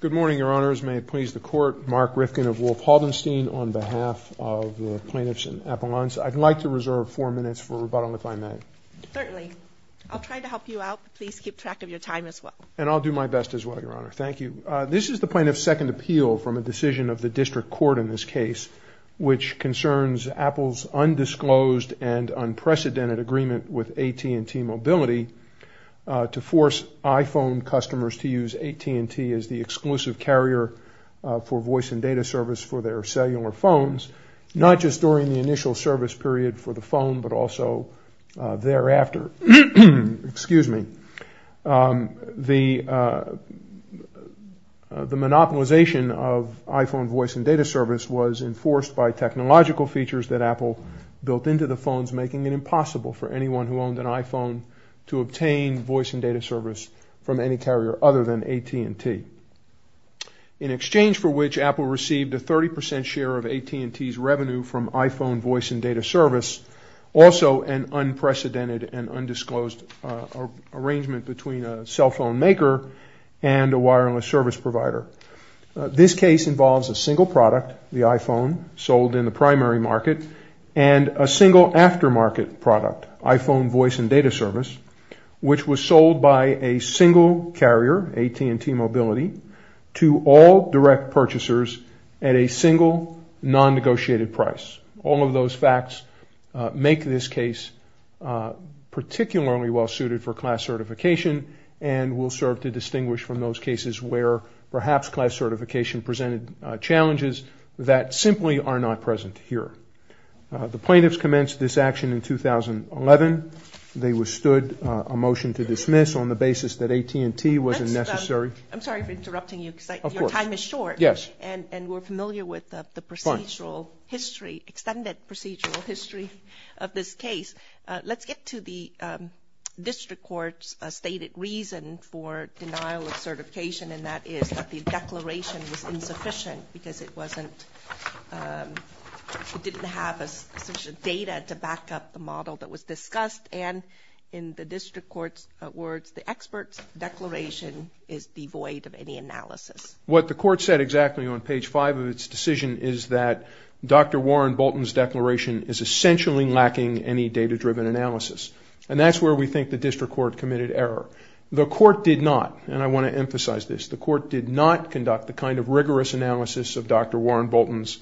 Good morning, Your Honors. May it please the Court, Mark Rifkin of Wolf Haldenstein on behalf of the plaintiffs in Appalachia. I'd like to reserve four minutes for rebuttal, if I may. Certainly. I'll try to help you out, but please keep track of your time as well. And I'll do my best as well, Your Honor. Thank you. This is the plaintiff's second appeal from a decision of the district court in this case, which concerns Apple's undisclosed and unprecedented agreement with AT&T Mobility to force iPhone customers to use AT&T as the exclusive carrier for voice and data service for their cellular phones, not just during the initial service period for the phone, but also thereafter. The monopolization of iPhone voice and data service was enforced by technological features that Apple built into the phones, making it impossible for anyone who owned an iPhone to obtain voice and data service from any carrier other than AT&T. In exchange for which, Apple received a 30 percent share of AT&T's revenue from iPhone voice and data service, also an unprecedented and undisclosed arrangement between a cell phone maker and a wireless service provider. This case involves a single product, the iPhone, sold in the primary market, and a single aftermarket product, iPhone voice and data service, which was sold by a single carrier, AT&T Mobility, to all direct purchasers at a single non-negotiated price. All of those facts make this case particularly well suited for class certification and will serve to distinguish from those cases where perhaps class certification presented challenges that simply are not present here. The plaintiffs commenced this action in 2011. They withstood a motion to dismiss on the basis that AT&T wasn't necessary. I'm sorry for interrupting you. Of course. Your time is short. Yes. And we're familiar with the procedural history, extended procedural history of this case. Let's get to the district court's stated reason for denial of certification, and that is that the declaration was insufficient because it didn't have sufficient data to back up the model that was discussed. And in the district court's words, the expert's declaration is devoid of any analysis. What the court said exactly on page five of its decision is that Dr. Warren Bolton's declaration is essentially lacking any data-driven analysis, and that's where we think the district court committed error. The court did not, and I want to emphasize this, the court did not conduct the kind of rigorous analysis of Dr. Warren Bolton's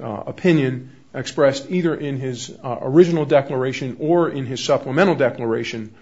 opinion expressed either in his original declaration or in his supplemental declaration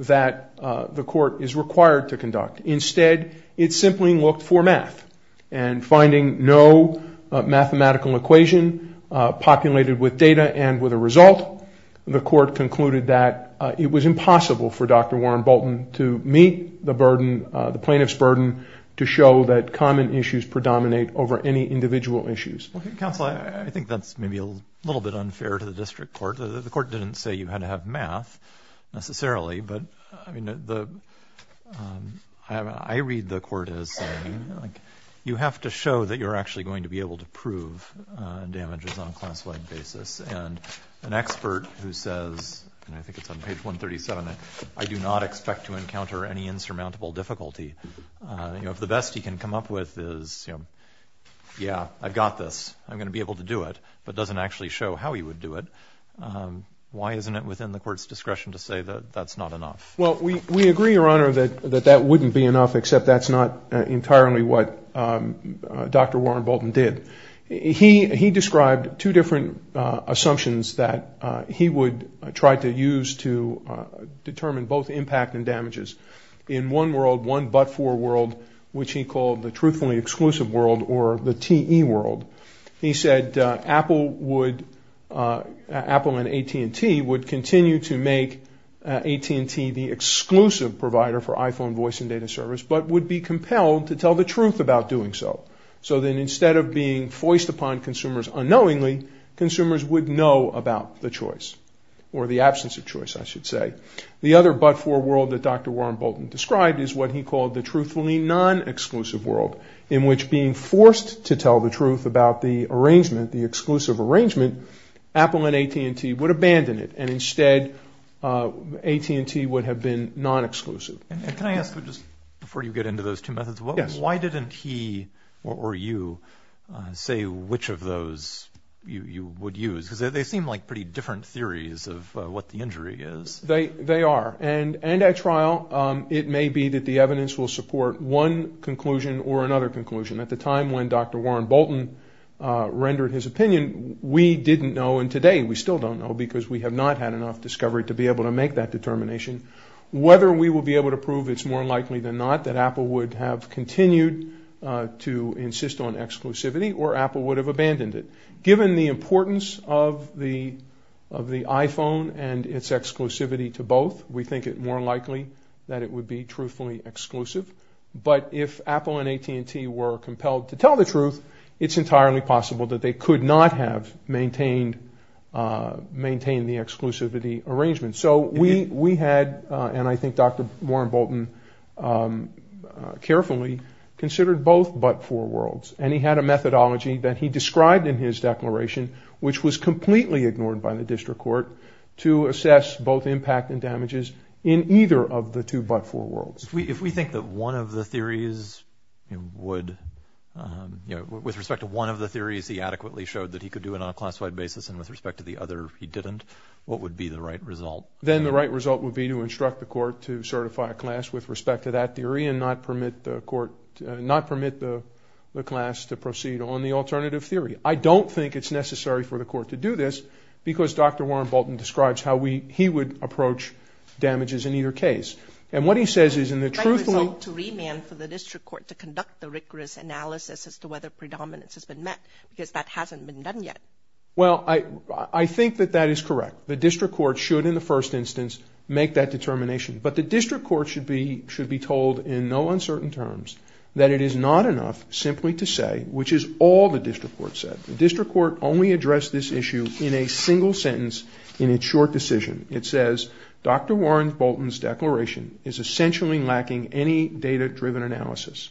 that the court is required to conduct. Instead, it simply looked for math. And finding no mathematical equation populated with data and with a result, the court concluded that it was impossible for Dr. Warren Bolton to meet the burden, the plaintiff's burden to show that common issues predominate over any individual issues. Counsel, I think that's maybe a little bit unfair to the district court. The court didn't say you had to have math necessarily, but I read the court as saying you have to show that you're actually going to be able to prove damages on a class-wide basis. And an expert who says, and I think it's on page 137, I do not expect to encounter any insurmountable difficulty, if the best he can come up with is, yeah, I've got this, I'm going to be able to do it, but doesn't actually show how he would do it. Why isn't it within the court's discretion to say that that's not enough? Well, we agree, Your Honor, that that wouldn't be enough, except that's not entirely what Dr. Warren Bolton did. He described two different assumptions that he would try to use to determine both impact and damages. In one world, one but-for world, which he called the truthfully exclusive world or the TE world, he said Apple and AT&T would continue to make AT&T the exclusive provider for iPhone voice and data service, but would be compelled to tell the truth about doing so. So then instead of being foist upon consumers unknowingly, consumers would know about the choice, or the absence of choice, I should say. The other but-for world that Dr. Warren Bolton described is what he called the truthfully non-exclusive world, in which being forced to tell the truth about the arrangement, the exclusive arrangement, Apple and AT&T would abandon it, and instead AT&T would have been non-exclusive. Can I ask, before you get into those two methods, why didn't he or you say which of those you would use? Because they seem like pretty different theories of what the injury is. They are, and at trial it may be that the evidence will support one conclusion or another conclusion. At the time when Dr. Warren Bolton rendered his opinion, we didn't know, and today we still don't know, because we have not had enough discovery to be able to make that determination, whether we will be able to prove it's more likely than not that Apple would have continued to insist on exclusivity, or Apple would have abandoned it. Given the importance of the iPhone and its exclusivity to both, we think it more likely that it would be truthfully exclusive, but if Apple and AT&T were compelled to tell the truth, it's entirely possible that they could not have maintained the exclusivity arrangement. So we had, and I think Dr. Warren Bolton carefully considered both but-for worlds, and he had a methodology that he described in his declaration, which was completely ignored by the district court, to assess both impact and damages in either of the two but-for worlds. If we think that one of the theories would, you know, with respect to one of the theories he adequately showed that he could do it on a class-wide basis and with respect to the other he didn't, what would be the right result? Then the right result would be to instruct the court to certify a class with respect to that theory and not permit the court-not permit the class to proceed on the alternative theory. I don't think it's necessary for the court to do this because Dr. Warren Bolton describes how he would approach damages in either case. And what he says is in the truth- The right result to remand for the district court to conduct the rigorous analysis as to whether predominance has been met because that hasn't been done yet. Well, I think that that is correct. The district court should in the first instance make that determination, but the district court should be told in no uncertain terms that it is not enough simply to say, which is all the district court said. The district court only addressed this issue in a single sentence in its short decision. It says, Dr. Warren Bolton's declaration is essentially lacking any data-driven analysis.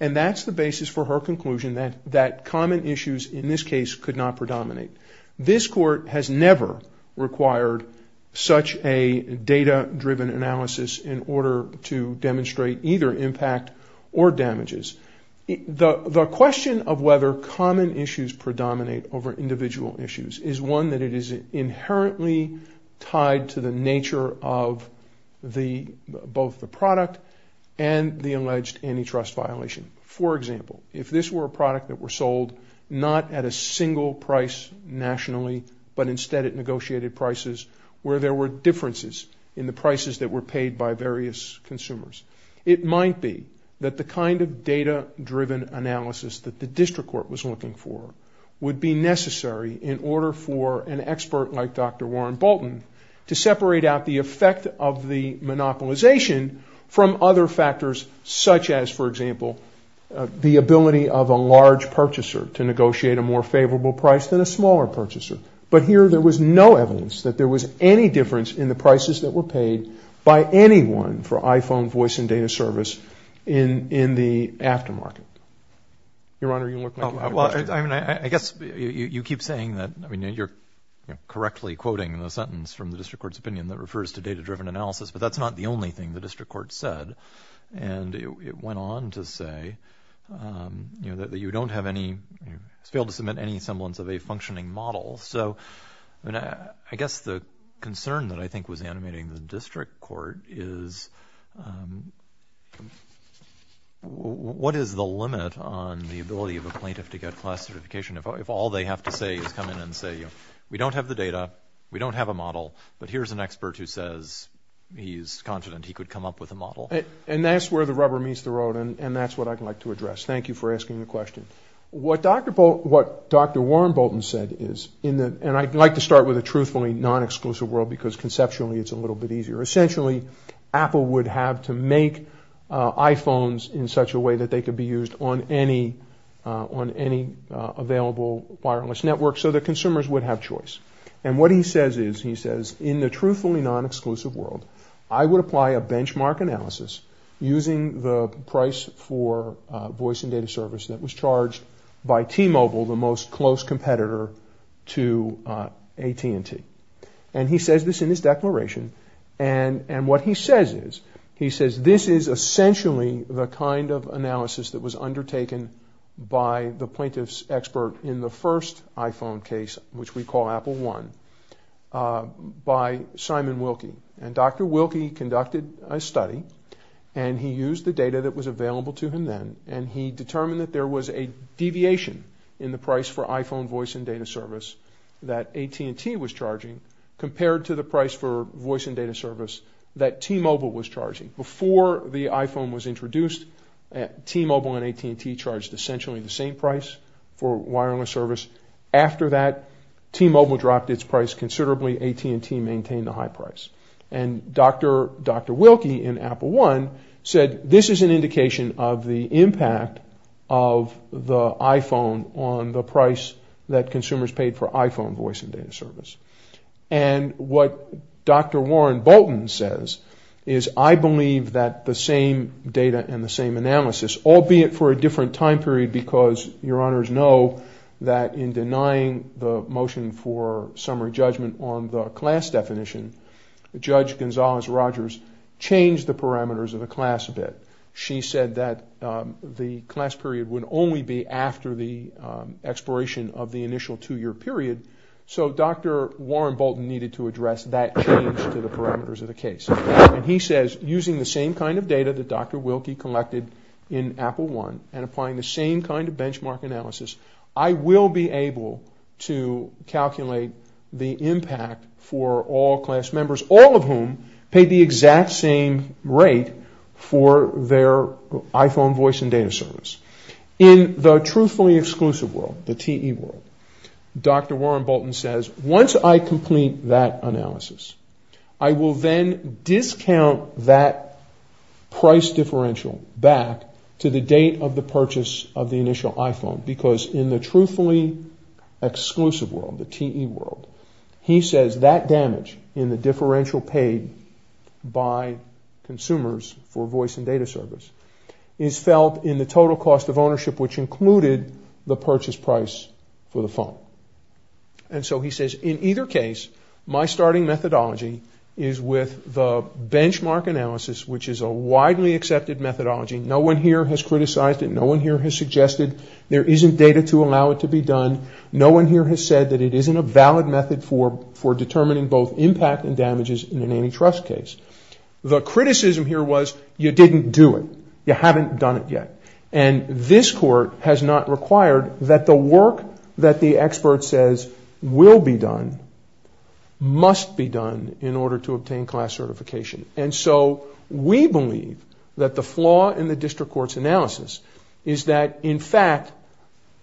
And that's the basis for her conclusion that common issues in this case could not predominate. This court has never required such a data-driven analysis in order to demonstrate either impact or damages. The question of whether common issues predominate over individual issues is one that is inherently tied to the nature of both the product and the alleged antitrust violation. For example, if this were a product that were sold not at a single price nationally, but instead at negotiated prices where there were differences in the prices that were paid by various consumers, it might be that the kind of data-driven analysis that the district court was looking for would be necessary in order for an expert like Dr. Warren Bolton to separate out the effect of the monopolization from other factors such as, for example, the ability of a large purchaser to negotiate a more favorable price than a smaller purchaser. But here there was no evidence that there was any difference in the prices that were paid by anyone for iPhone voice and data service in the aftermarket. Your Honor, you look like you have a question. I mean, I guess you keep saying that, I mean, you're correctly quoting the sentence from the district court's opinion that refers to data-driven analysis, but that's not the only thing the district court said. And it went on to say, you know, that you don't have any, failed to submit any semblance of a functioning model. So I guess the concern that I think was animating the district court is what is the limit on the ability of a plaintiff to get class certification if all they have to say is come in and say, you know, we don't have the data, we don't have a model, but here's an expert who says he's confident he could come up with a model. And that's where the rubber meets the road, and that's what I'd like to address. Thank you for asking the question. What Dr. Warren Bolton said is, and I'd like to start with a truthfully non-exclusive world because conceptually it's a little bit easier. Essentially, Apple would have to make iPhones in such a way that they could be used on any available wireless network so that consumers would have choice. And what he says is, he says, in the truthfully non-exclusive world, I would apply a benchmark analysis using the price for voice and data service that was charged by T-Mobile, the most close competitor to AT&T. And he says this in his declaration, and what he says is, he says, this is essentially the kind of analysis that was undertaken by the plaintiff's expert in the first iPhone case, which we call Apple One, by Simon Wilkie. And Dr. Wilkie conducted a study, and he used the data that was available to him then, and he determined that there was a deviation in the price for iPhone voice and data service that AT&T was charging compared to the price for voice and data service that T-Mobile was charging. Before the iPhone was introduced, T-Mobile and AT&T charged essentially the same price for wireless service. After that, T-Mobile dropped its price considerably. AT&T maintained the high price. And Dr. Wilkie in Apple One said, this is an indication of the impact of the iPhone on the price that consumers paid for iPhone voice and data service. And what Dr. Warren Bolton says is, I believe that the same data and the same analysis, albeit for a different time period, because Your Honors know that in denying the motion for summary judgment on the class definition, Judge Gonzalez-Rogers changed the parameters of the class a bit. She said that the class period would only be after the expiration of the initial two-year period. So Dr. Warren Bolton needed to address that change to the parameters of the case. And he says, using the same kind of data that Dr. Wilkie collected in Apple One and applying the same kind of benchmark analysis, I will be able to calculate the impact for all class members, all of whom paid the exact same rate for their iPhone voice and data service. In the truthfully exclusive world, the TE world, Dr. Warren Bolton says, once I complete that analysis, I will then discount that price differential back to the date of the purchase of the initial iPhone. Because in the truthfully exclusive world, the TE world, he says that damage in the differential paid by consumers for voice and data service is felt in the total cost of ownership, which included the purchase price for the phone. And so he says, in either case, my starting methodology is with the benchmark analysis, which is a widely accepted methodology. No one here has criticized it. There isn't data to allow it to be done. No one here has said that it isn't a valid method for determining both impact and damages in an antitrust case. The criticism here was, you didn't do it. You haven't done it yet. And this court has not required that the work that the expert says will be done, must be done in order to obtain class certification. And so we believe that the flaw in the district court's analysis is that, in fact,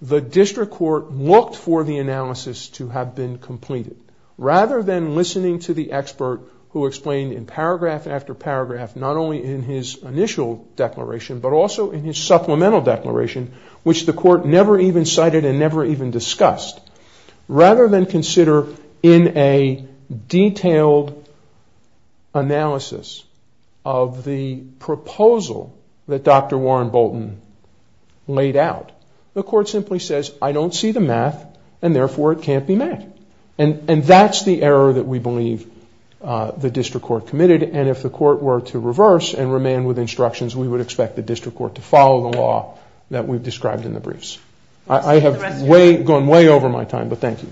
the district court looked for the analysis to have been completed, rather than listening to the expert who explained in paragraph after paragraph, not only in his initial declaration, but also in his supplemental declaration, which the court never even cited and never even discussed. Rather than consider in a detailed analysis of the proposal that Dr. Warren Bolton laid out, the court simply says, I don't see the math, and therefore it can't be met. And that's the error that we believe the district court committed. And if the court were to reverse and remain with instructions, we would expect the district court to follow the law that we've described in the briefs. I have gone way over my time, but thank you.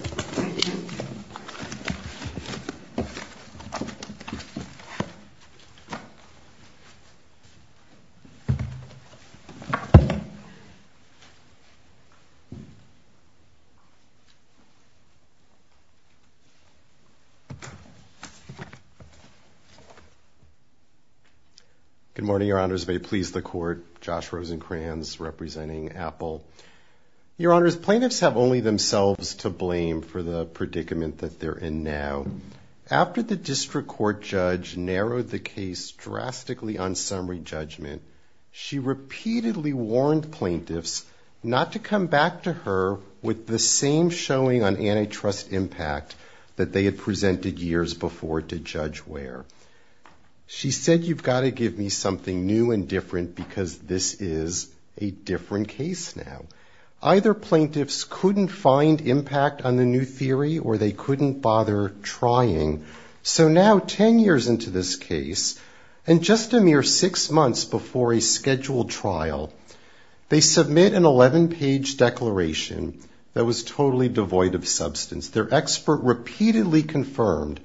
Thank you. Good morning, Your Honors. May it please the court. Josh Rosenkranz, representing Apple. Your Honors, plaintiffs have only themselves to blame for the predicament that they're in now. After the district court judge narrowed the case drastically on summary judgment, she repeatedly warned plaintiffs not to come back to her with the same showing on antitrust impact that they had presented years before to Judge Ware. She said, you've got to give me something new and different because this is a different case now. Either plaintiffs couldn't find impact on the new theory, or they couldn't bother trying. So now, 10 years into this case, and just a mere six months before a scheduled trial, they submit an 11-page declaration that was totally devoid of substance. Their expert repeatedly confirmed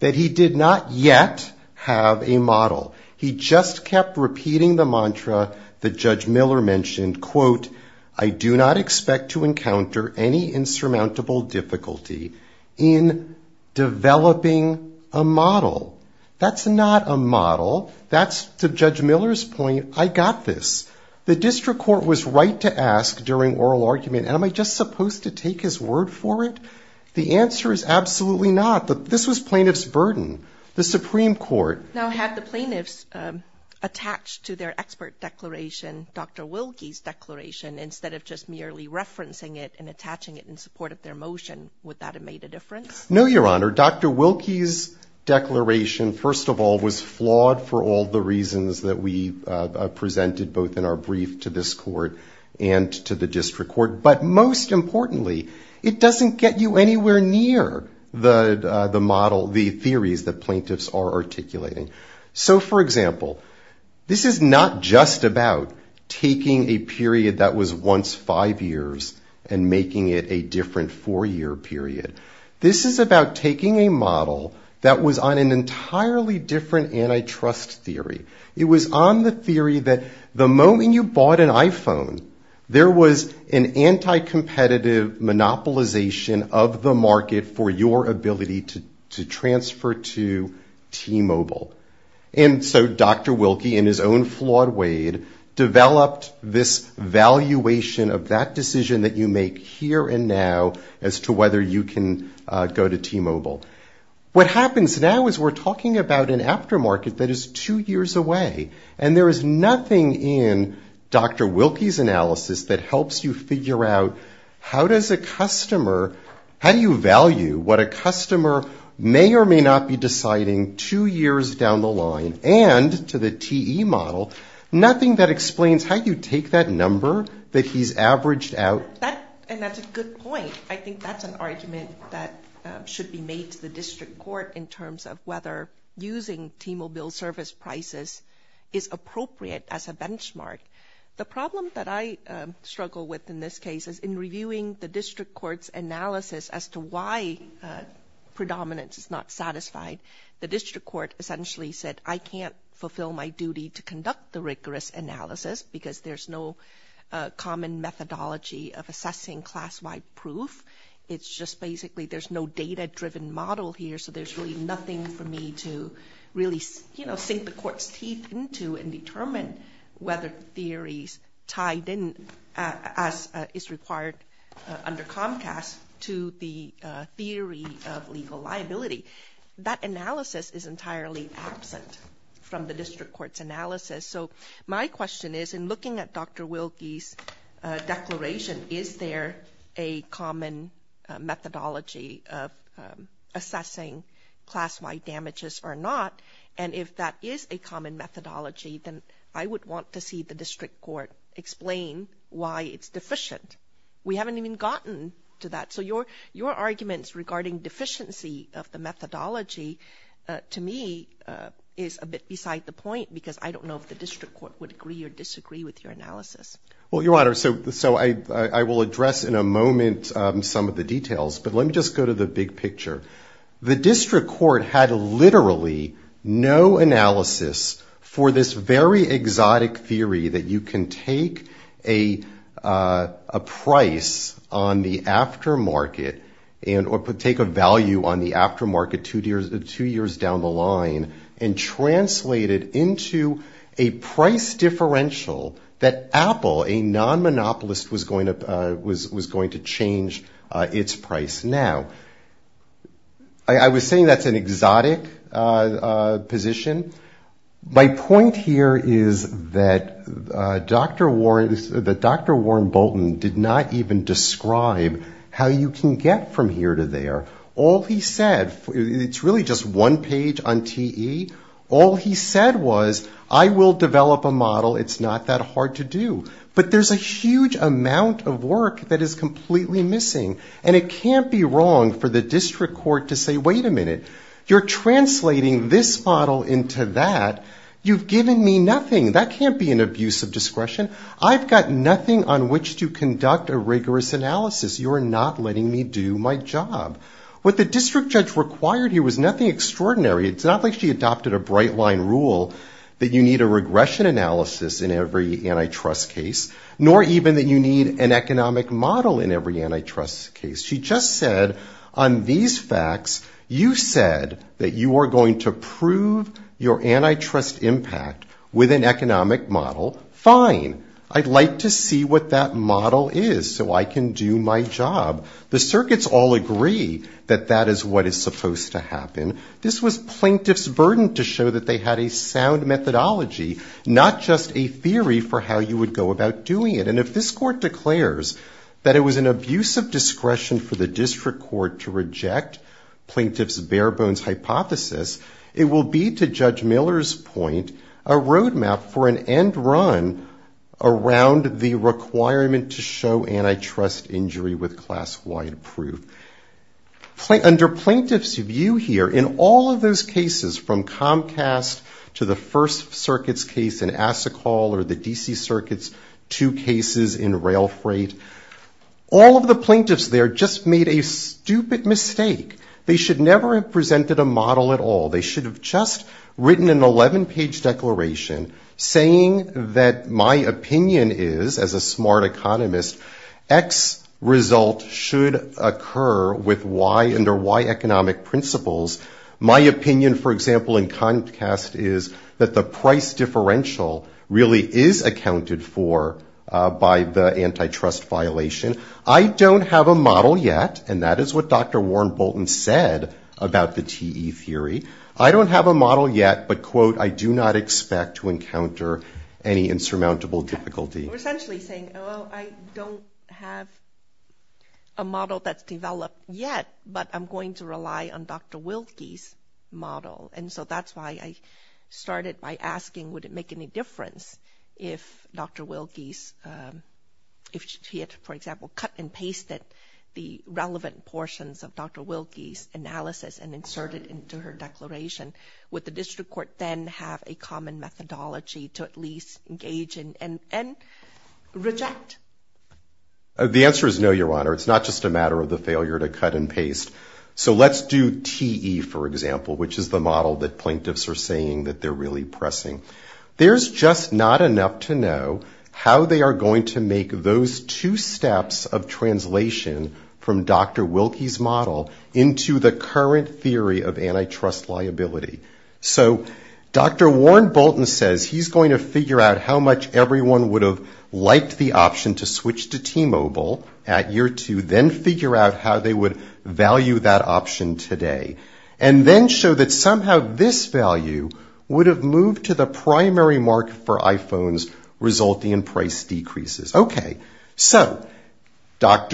that he did not yet have a model. He just kept repeating the mantra that Judge Miller mentioned, quote, I do not expect to encounter any insurmountable difficulty in developing a model. That's not a model. That's, to Judge Miller's point, I got this. The district court was right to ask during oral argument, the answer is absolutely not. This was plaintiff's burden. The Supreme Court... Now, had the plaintiffs attached to their expert declaration, Dr. Wilkie's declaration, instead of just merely referencing it and attaching it in support of their motion, would that have made a difference? No, Your Honor. Dr. Wilkie's declaration, first of all, was flawed for all the reasons that we presented both in our brief to this court and to the district court. But most importantly, it doesn't get you anywhere near the model, the theories that plaintiffs are articulating. So, for example, this is not just about taking a period that was once five years and making it a different four-year period. This is about taking a model that was on an entirely different antitrust theory. It was on the theory that the moment you bought an iPhone, there was an anti-competitive monopolization of the market for your ability to transfer to T-Mobile. And so Dr. Wilkie, in his own flawed way, developed this valuation of that decision that you make here and now as to whether you can go to T-Mobile. What happens now is we're talking about an aftermarket that is two years away. And there is nothing in Dr. Wilkie's analysis that helps you figure out how does a customer, how do you value what a customer may or may not be deciding two years down the line and to the TE model, nothing that explains how you take that number that he's averaged out And that's a good point. I think that's an argument that should be made to the district court in terms of whether using T-Mobile service prices is appropriate as a benchmark. The problem that I struggle with in this case is in reviewing the district court's analysis as to why predominance is not satisfied, the district court essentially said, I can't fulfill my duty to conduct the rigorous analysis because there's no common methodology for assessing class-wide proof. It's just basically there's no data-driven model here so there's really nothing for me to really sink the court's teeth into and determine whether theories tied in as is required under Comcast to the theory of legal liability. That analysis is entirely absent from the district court's analysis. So my question is, in looking at Dr. Wilkie's declaration, is there a common methodology of assessing class-wide damages or not? And if that is a common methodology, then I would want to see the district court explain why it's deficient. We haven't even gotten to that. So your arguments regarding deficiency of the methodology, to me, is a bit beside the point because I don't know if the district court would agree or disagree with your analysis. Well, Your Honor, so I will address in a moment some of the details, but let me just go to the big picture. The district court had literally no analysis for this very exotic theory that you can take a price on the aftermarket or take a value on the aftermarket two years down the line and translate it into a price differential that Apple, a non-monopolist, was going to change its price now. I was saying that's an exotic position. My point here is that Dr. Warren Bolton did not even describe how you can get from here to there. All he said, it's really just one page on TE, all he said was I will develop a model. It's not that hard to do. But there's a huge amount of work that is completely missing and it can't be wrong for the district court to say, wait a minute, you're translating this model into that. You've given me nothing. That can't be an abuse of discretion. I've got nothing on which to conduct a rigorous analysis. You're not letting me do my job. What the district judge required here was nothing extraordinary. It's not like she adopted a bright line rule that you need a regression analysis in every antitrust case, nor even that you need an economic model in every antitrust case. She just said on these facts, you said that you are going to prove your antitrust impact with an economic model. Fine. I'd like to see what that model is so I can do my job. The circuits all agree that that is what is supposed to happen. This was plaintiff's burden to show that they had a sound methodology, not just a theory for how you would go about doing it. And if this court declares that it was an abuse of discretion for the district court to reject plaintiff's bare bones hypothesis, it will be, to Judge Miller's point, a roadmap for an end run around the requirement to show antitrust injury with class-wide proof. Under plaintiff's view here, in all of those cases, from Comcast to the First Circuit's case in Assacolle or the D.C. Circuit's two cases in rail freight, all of the plaintiffs there just made a stupid mistake. They should never have presented a model at all. They should have just written an 11-page declaration saying that my opinion is, as a smart economist, X result should occur with Y under Y economic principles. My opinion, for example, in Comcast is that the price differential really is accounted for by the antitrust violation. I don't have a model yet, and that is what Dr. Warren Bolton said about the TE theory. I don't have a model yet, but, quote, I do not expect to encounter any insurmountable difficulty. We're essentially saying, oh, I don't have a model that's developed yet, but I'm going to rely on Dr. Wilkie's model. And so that's why I started by asking, would it make any difference if Dr. Wilkie's, if she had, for example, cut and pasted the relevant portions of Dr. Wilkie's analysis and inserted it into her declaration? Would the district court then have a common methodology to at least engage in and reject? The answer is no, Your Honor. It's not just a matter of the failure to cut and paste. So let's do TE, for example, which is the model that plaintiffs are saying that they're really pressing. There's just not enough to know how they are going to make those two steps of translation from Dr. Wilkie's model into the current theory of antitrust liability. So Dr. Warren Bolton says he's going to figure out how much everyone would have liked the option to switch to T-Mobile at year two, then figure out how they would value that option today, and then show that somehow this value would have moved to the primary market for iPhones, resulting in price decreases. Okay, so Judge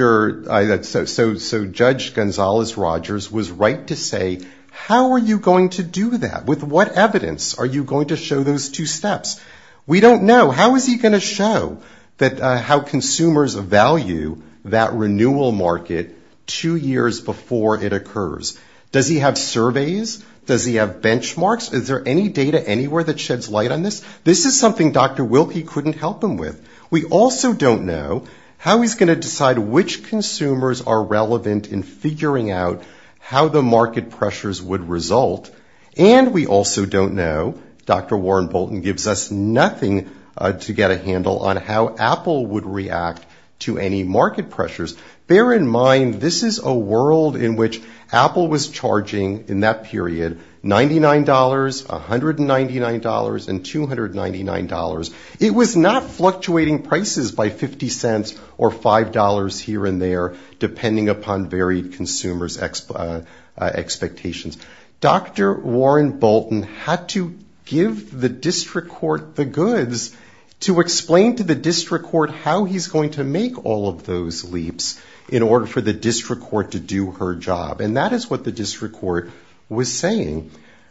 Gonzalez-Rogers was right to say, how are you going to do that? With what evidence are you going to show those two steps? We don't know. How is he going to show how consumers value that renewal market two years before it occurs? Does he have surveys? Does he have benchmarks? Is there any data anywhere that sheds light on this? This is something Dr. Wilkie couldn't help him with. We also don't know how he's going to decide which consumers are relevant in figuring out how the market pressures would result. And we also don't know, Dr. Warren Bolton gives us nothing to get a handle on, how Apple would react to any market pressures. Bear in mind, this is a world in which Apple was charging in that period $99, $199, and $299. It was not fluctuating prices by 50 cents or $5 here and there, depending upon varied consumers' expectations. Dr. Warren Bolton had to give the district court the goods to explain to the district court how he's going to make all of those leaps in order for the district court to do her job. And that is what the district court was saying.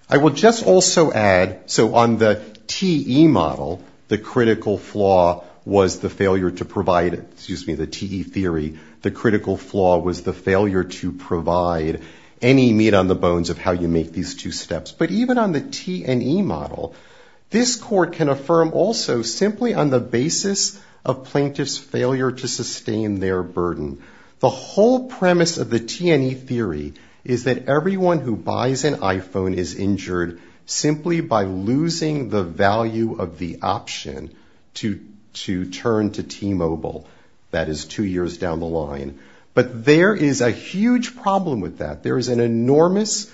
I will just also add, so on the TE model, the critical flaw was the failure to provide, excuse me, the TE theory. The critical flaw was the failure to provide any meat on the bones of how you make these two steps. But even on the T and E model, this court can affirm also simply on the basis of plaintiffs' failure to sustain their burden. The whole premise of the T and E theory is that everyone who buys an iPhone or an iPad is injured simply by losing the value of the option to turn to T-Mobile. That is two years down the line. But there is a huge problem with that. There is an enormous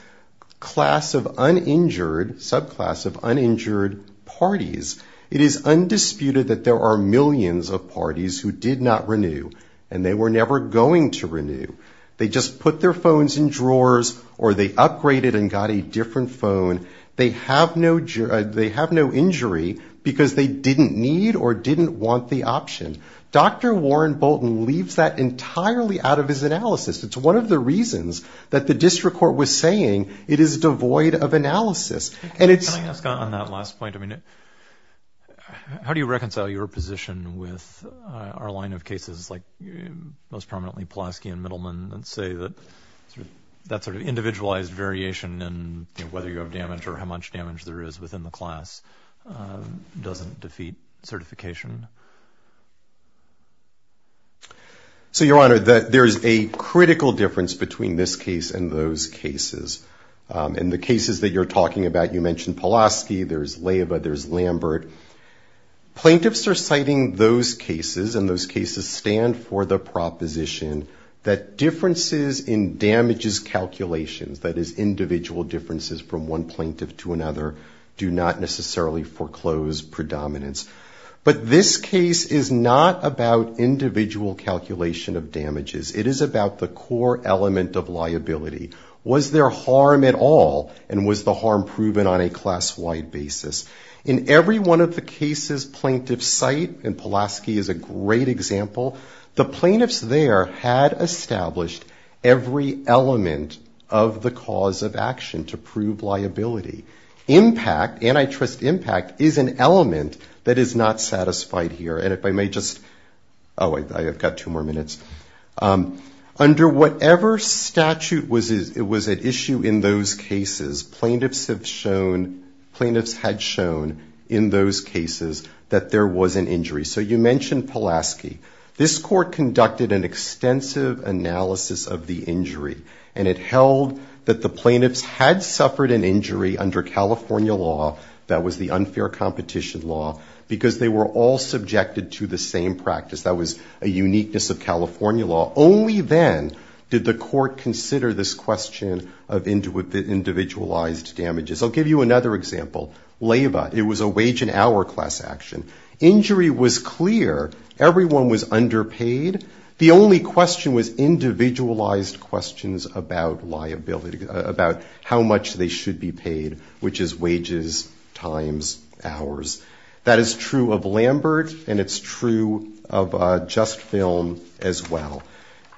class of uninjured, subclass of uninjured parties. It is undisputed that there are millions of parties who did not renew and they were never going to renew. They just put their phones in drawers or they upgraded and got a different phone. They have no injury because they didn't need or didn't want the option. Dr. Warren Bolton leaves that entirely out of his analysis. It's one of the reasons that the district court was saying it is devoid of analysis. Can I ask on that last point? How do you reconcile your position with our line of cases like most prominently Pulaski and Middleman and say that that sort of individualized variation and whether you have damage or how much damage there is within the class doesn't defeat certification? Your Honor, there is a critical difference between this case and those cases. In the cases that you are talking about, you mentioned Pulaski, there is Leyva, there is Lambert. Plaintiffs are citing those cases and those cases stand for the proposition that differences in damages calculations, that is individual differences from one plaintiff to another, do not necessarily foreclose predominance. But this case is not about individual calculation of damages. It is about the core element of liability. Was there harm at all and was the harm proven on a class-wide basis? In every one of the cases plaintiffs cite, and Pulaski is a great example, the plaintiffs there had established every element of the cause of action to prove liability. Impact, antitrust impact, is an element that is not satisfied here. Under whatever statute was at issue in those cases, plaintiffs have shown, plaintiffs had shown in those cases that there was an injury. So you mentioned Pulaski. This Court conducted an extensive analysis of the injury and it held that the plaintiffs had suffered an injury under California law, that was the unfair competition law, because they were all subjected to the same practice. That was a uniqueness of California law. Only then did the Court consider this question of individualized damages. I'll give you another example. LABA, it was a wage and hour class action. Injury was clear. Everyone was underpaid. The only question was individualized questions about liability, about how much they should be paid, which is wages, times, hours. That is true of Lambert and it's true of Just Film as well.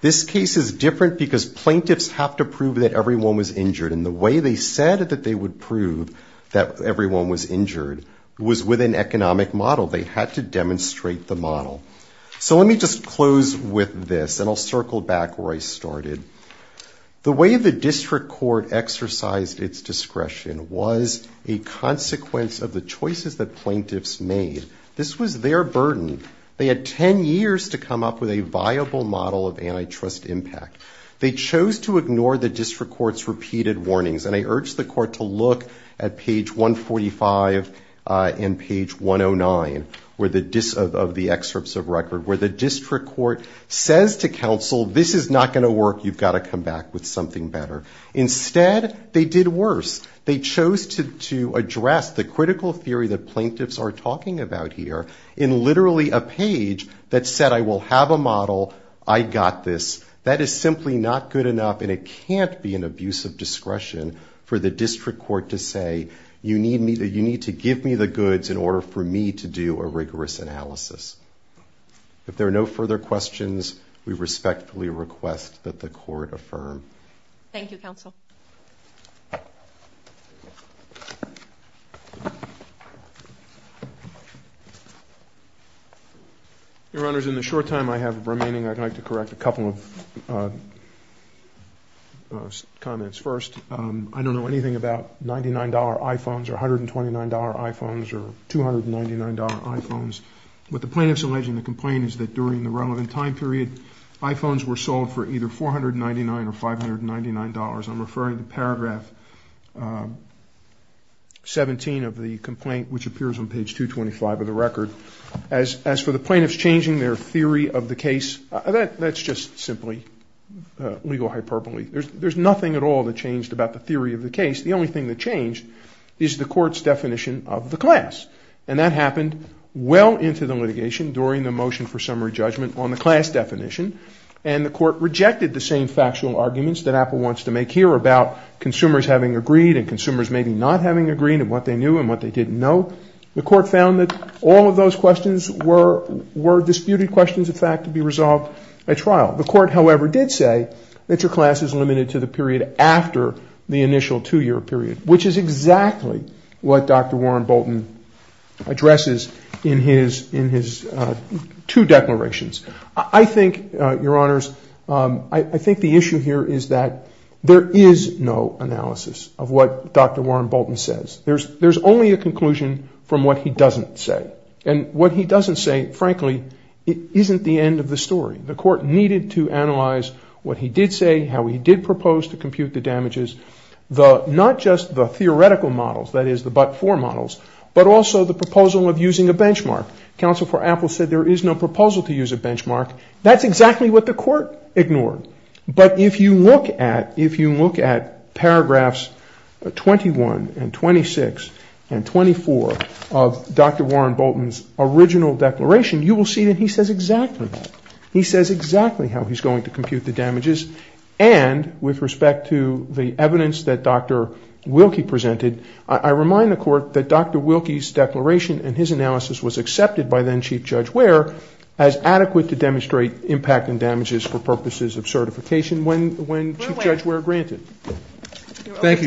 This case is different because plaintiffs have to prove that everyone was injured. And the way they said that they would prove that everyone was injured was with an economic model. They had to demonstrate the model. So let me just close with this and I'll circle back where I started. The way the district court exercised its discretion was a consequence of the choices that plaintiffs made. This was their burden. They had ten years to come up with a viable model of antitrust impact. They chose to ignore the district court's repeated warnings. And I urge the Court to look at page 145 and page 109 of the excerpts of record, where the district court says to counsel, this is not going to work, you've got to come back with something better. Instead, they did worse. They chose to address the critical theory that plaintiffs are talking about here in literally a page that said, I will have a model, I got this. That is simply not good enough and it can't be an abuse of discretion for the district court to say, you need to give me the goods in order for me to do a rigorous analysis. If there are no further questions, we respectfully request that the Court affirm. Thank you, counsel. Your Honor, in the short time I have remaining, I'd like to correct a couple of comments first. I don't know anything about $99 iPhones or $129 iPhones or $299 iPhones. What the plaintiffs allege in the complaint is that during the relevant time period, iPhones were sold for either $499 or $599. I'm referring to paragraph 17 of the complaint, which appears on page 225 of the record. As for the plaintiffs changing their theory of the case, that's just simply legal hyperbole. There's nothing at all that changed about the theory of the case. The only thing that changed is the Court's definition of the class. And that happened well into the litigation during the motion for summary judgment on the class definition. And the Court rejected the same factual arguments that Apple wants to make here about consumers having agreed and consumers maybe not having agreed and what they knew and what they didn't know. The Court found that all of those questions were disputed questions of fact to be resolved at trial. The Court, however, did say that your class is limited to the period after the initial two-year period, which is exactly what Dr. Warren Bolton addresses in his two declarations. I think, Your Honors, I think the issue here is that there is no analysis of what Dr. Warren Bolton says. There's only a conclusion from what he doesn't say. And what he doesn't say, frankly, isn't the end of the story. The Court needed to analyze what he did say, how he did propose to compute the damages, not just the theoretical models, that is, the but-for models, but also the proposal of using a benchmark. Counsel for Apple said there is no proposal to use a benchmark. That's exactly what the Court ignored. But if you look at paragraphs 21 and 26 and 24 of Dr. Warren Bolton's original declaration, you will see that he says exactly that. He says exactly how he's going to compute the damages. And with respect to the evidence that Dr. Wilkie presented, I remind the Court that Dr. Wilkie's declaration and his analysis was accepted by then-Chief Judge Ware as adequate to demonstrate impact and damages for purposes of certification when Chief Judge Ware granted. Thank you, Your Honor.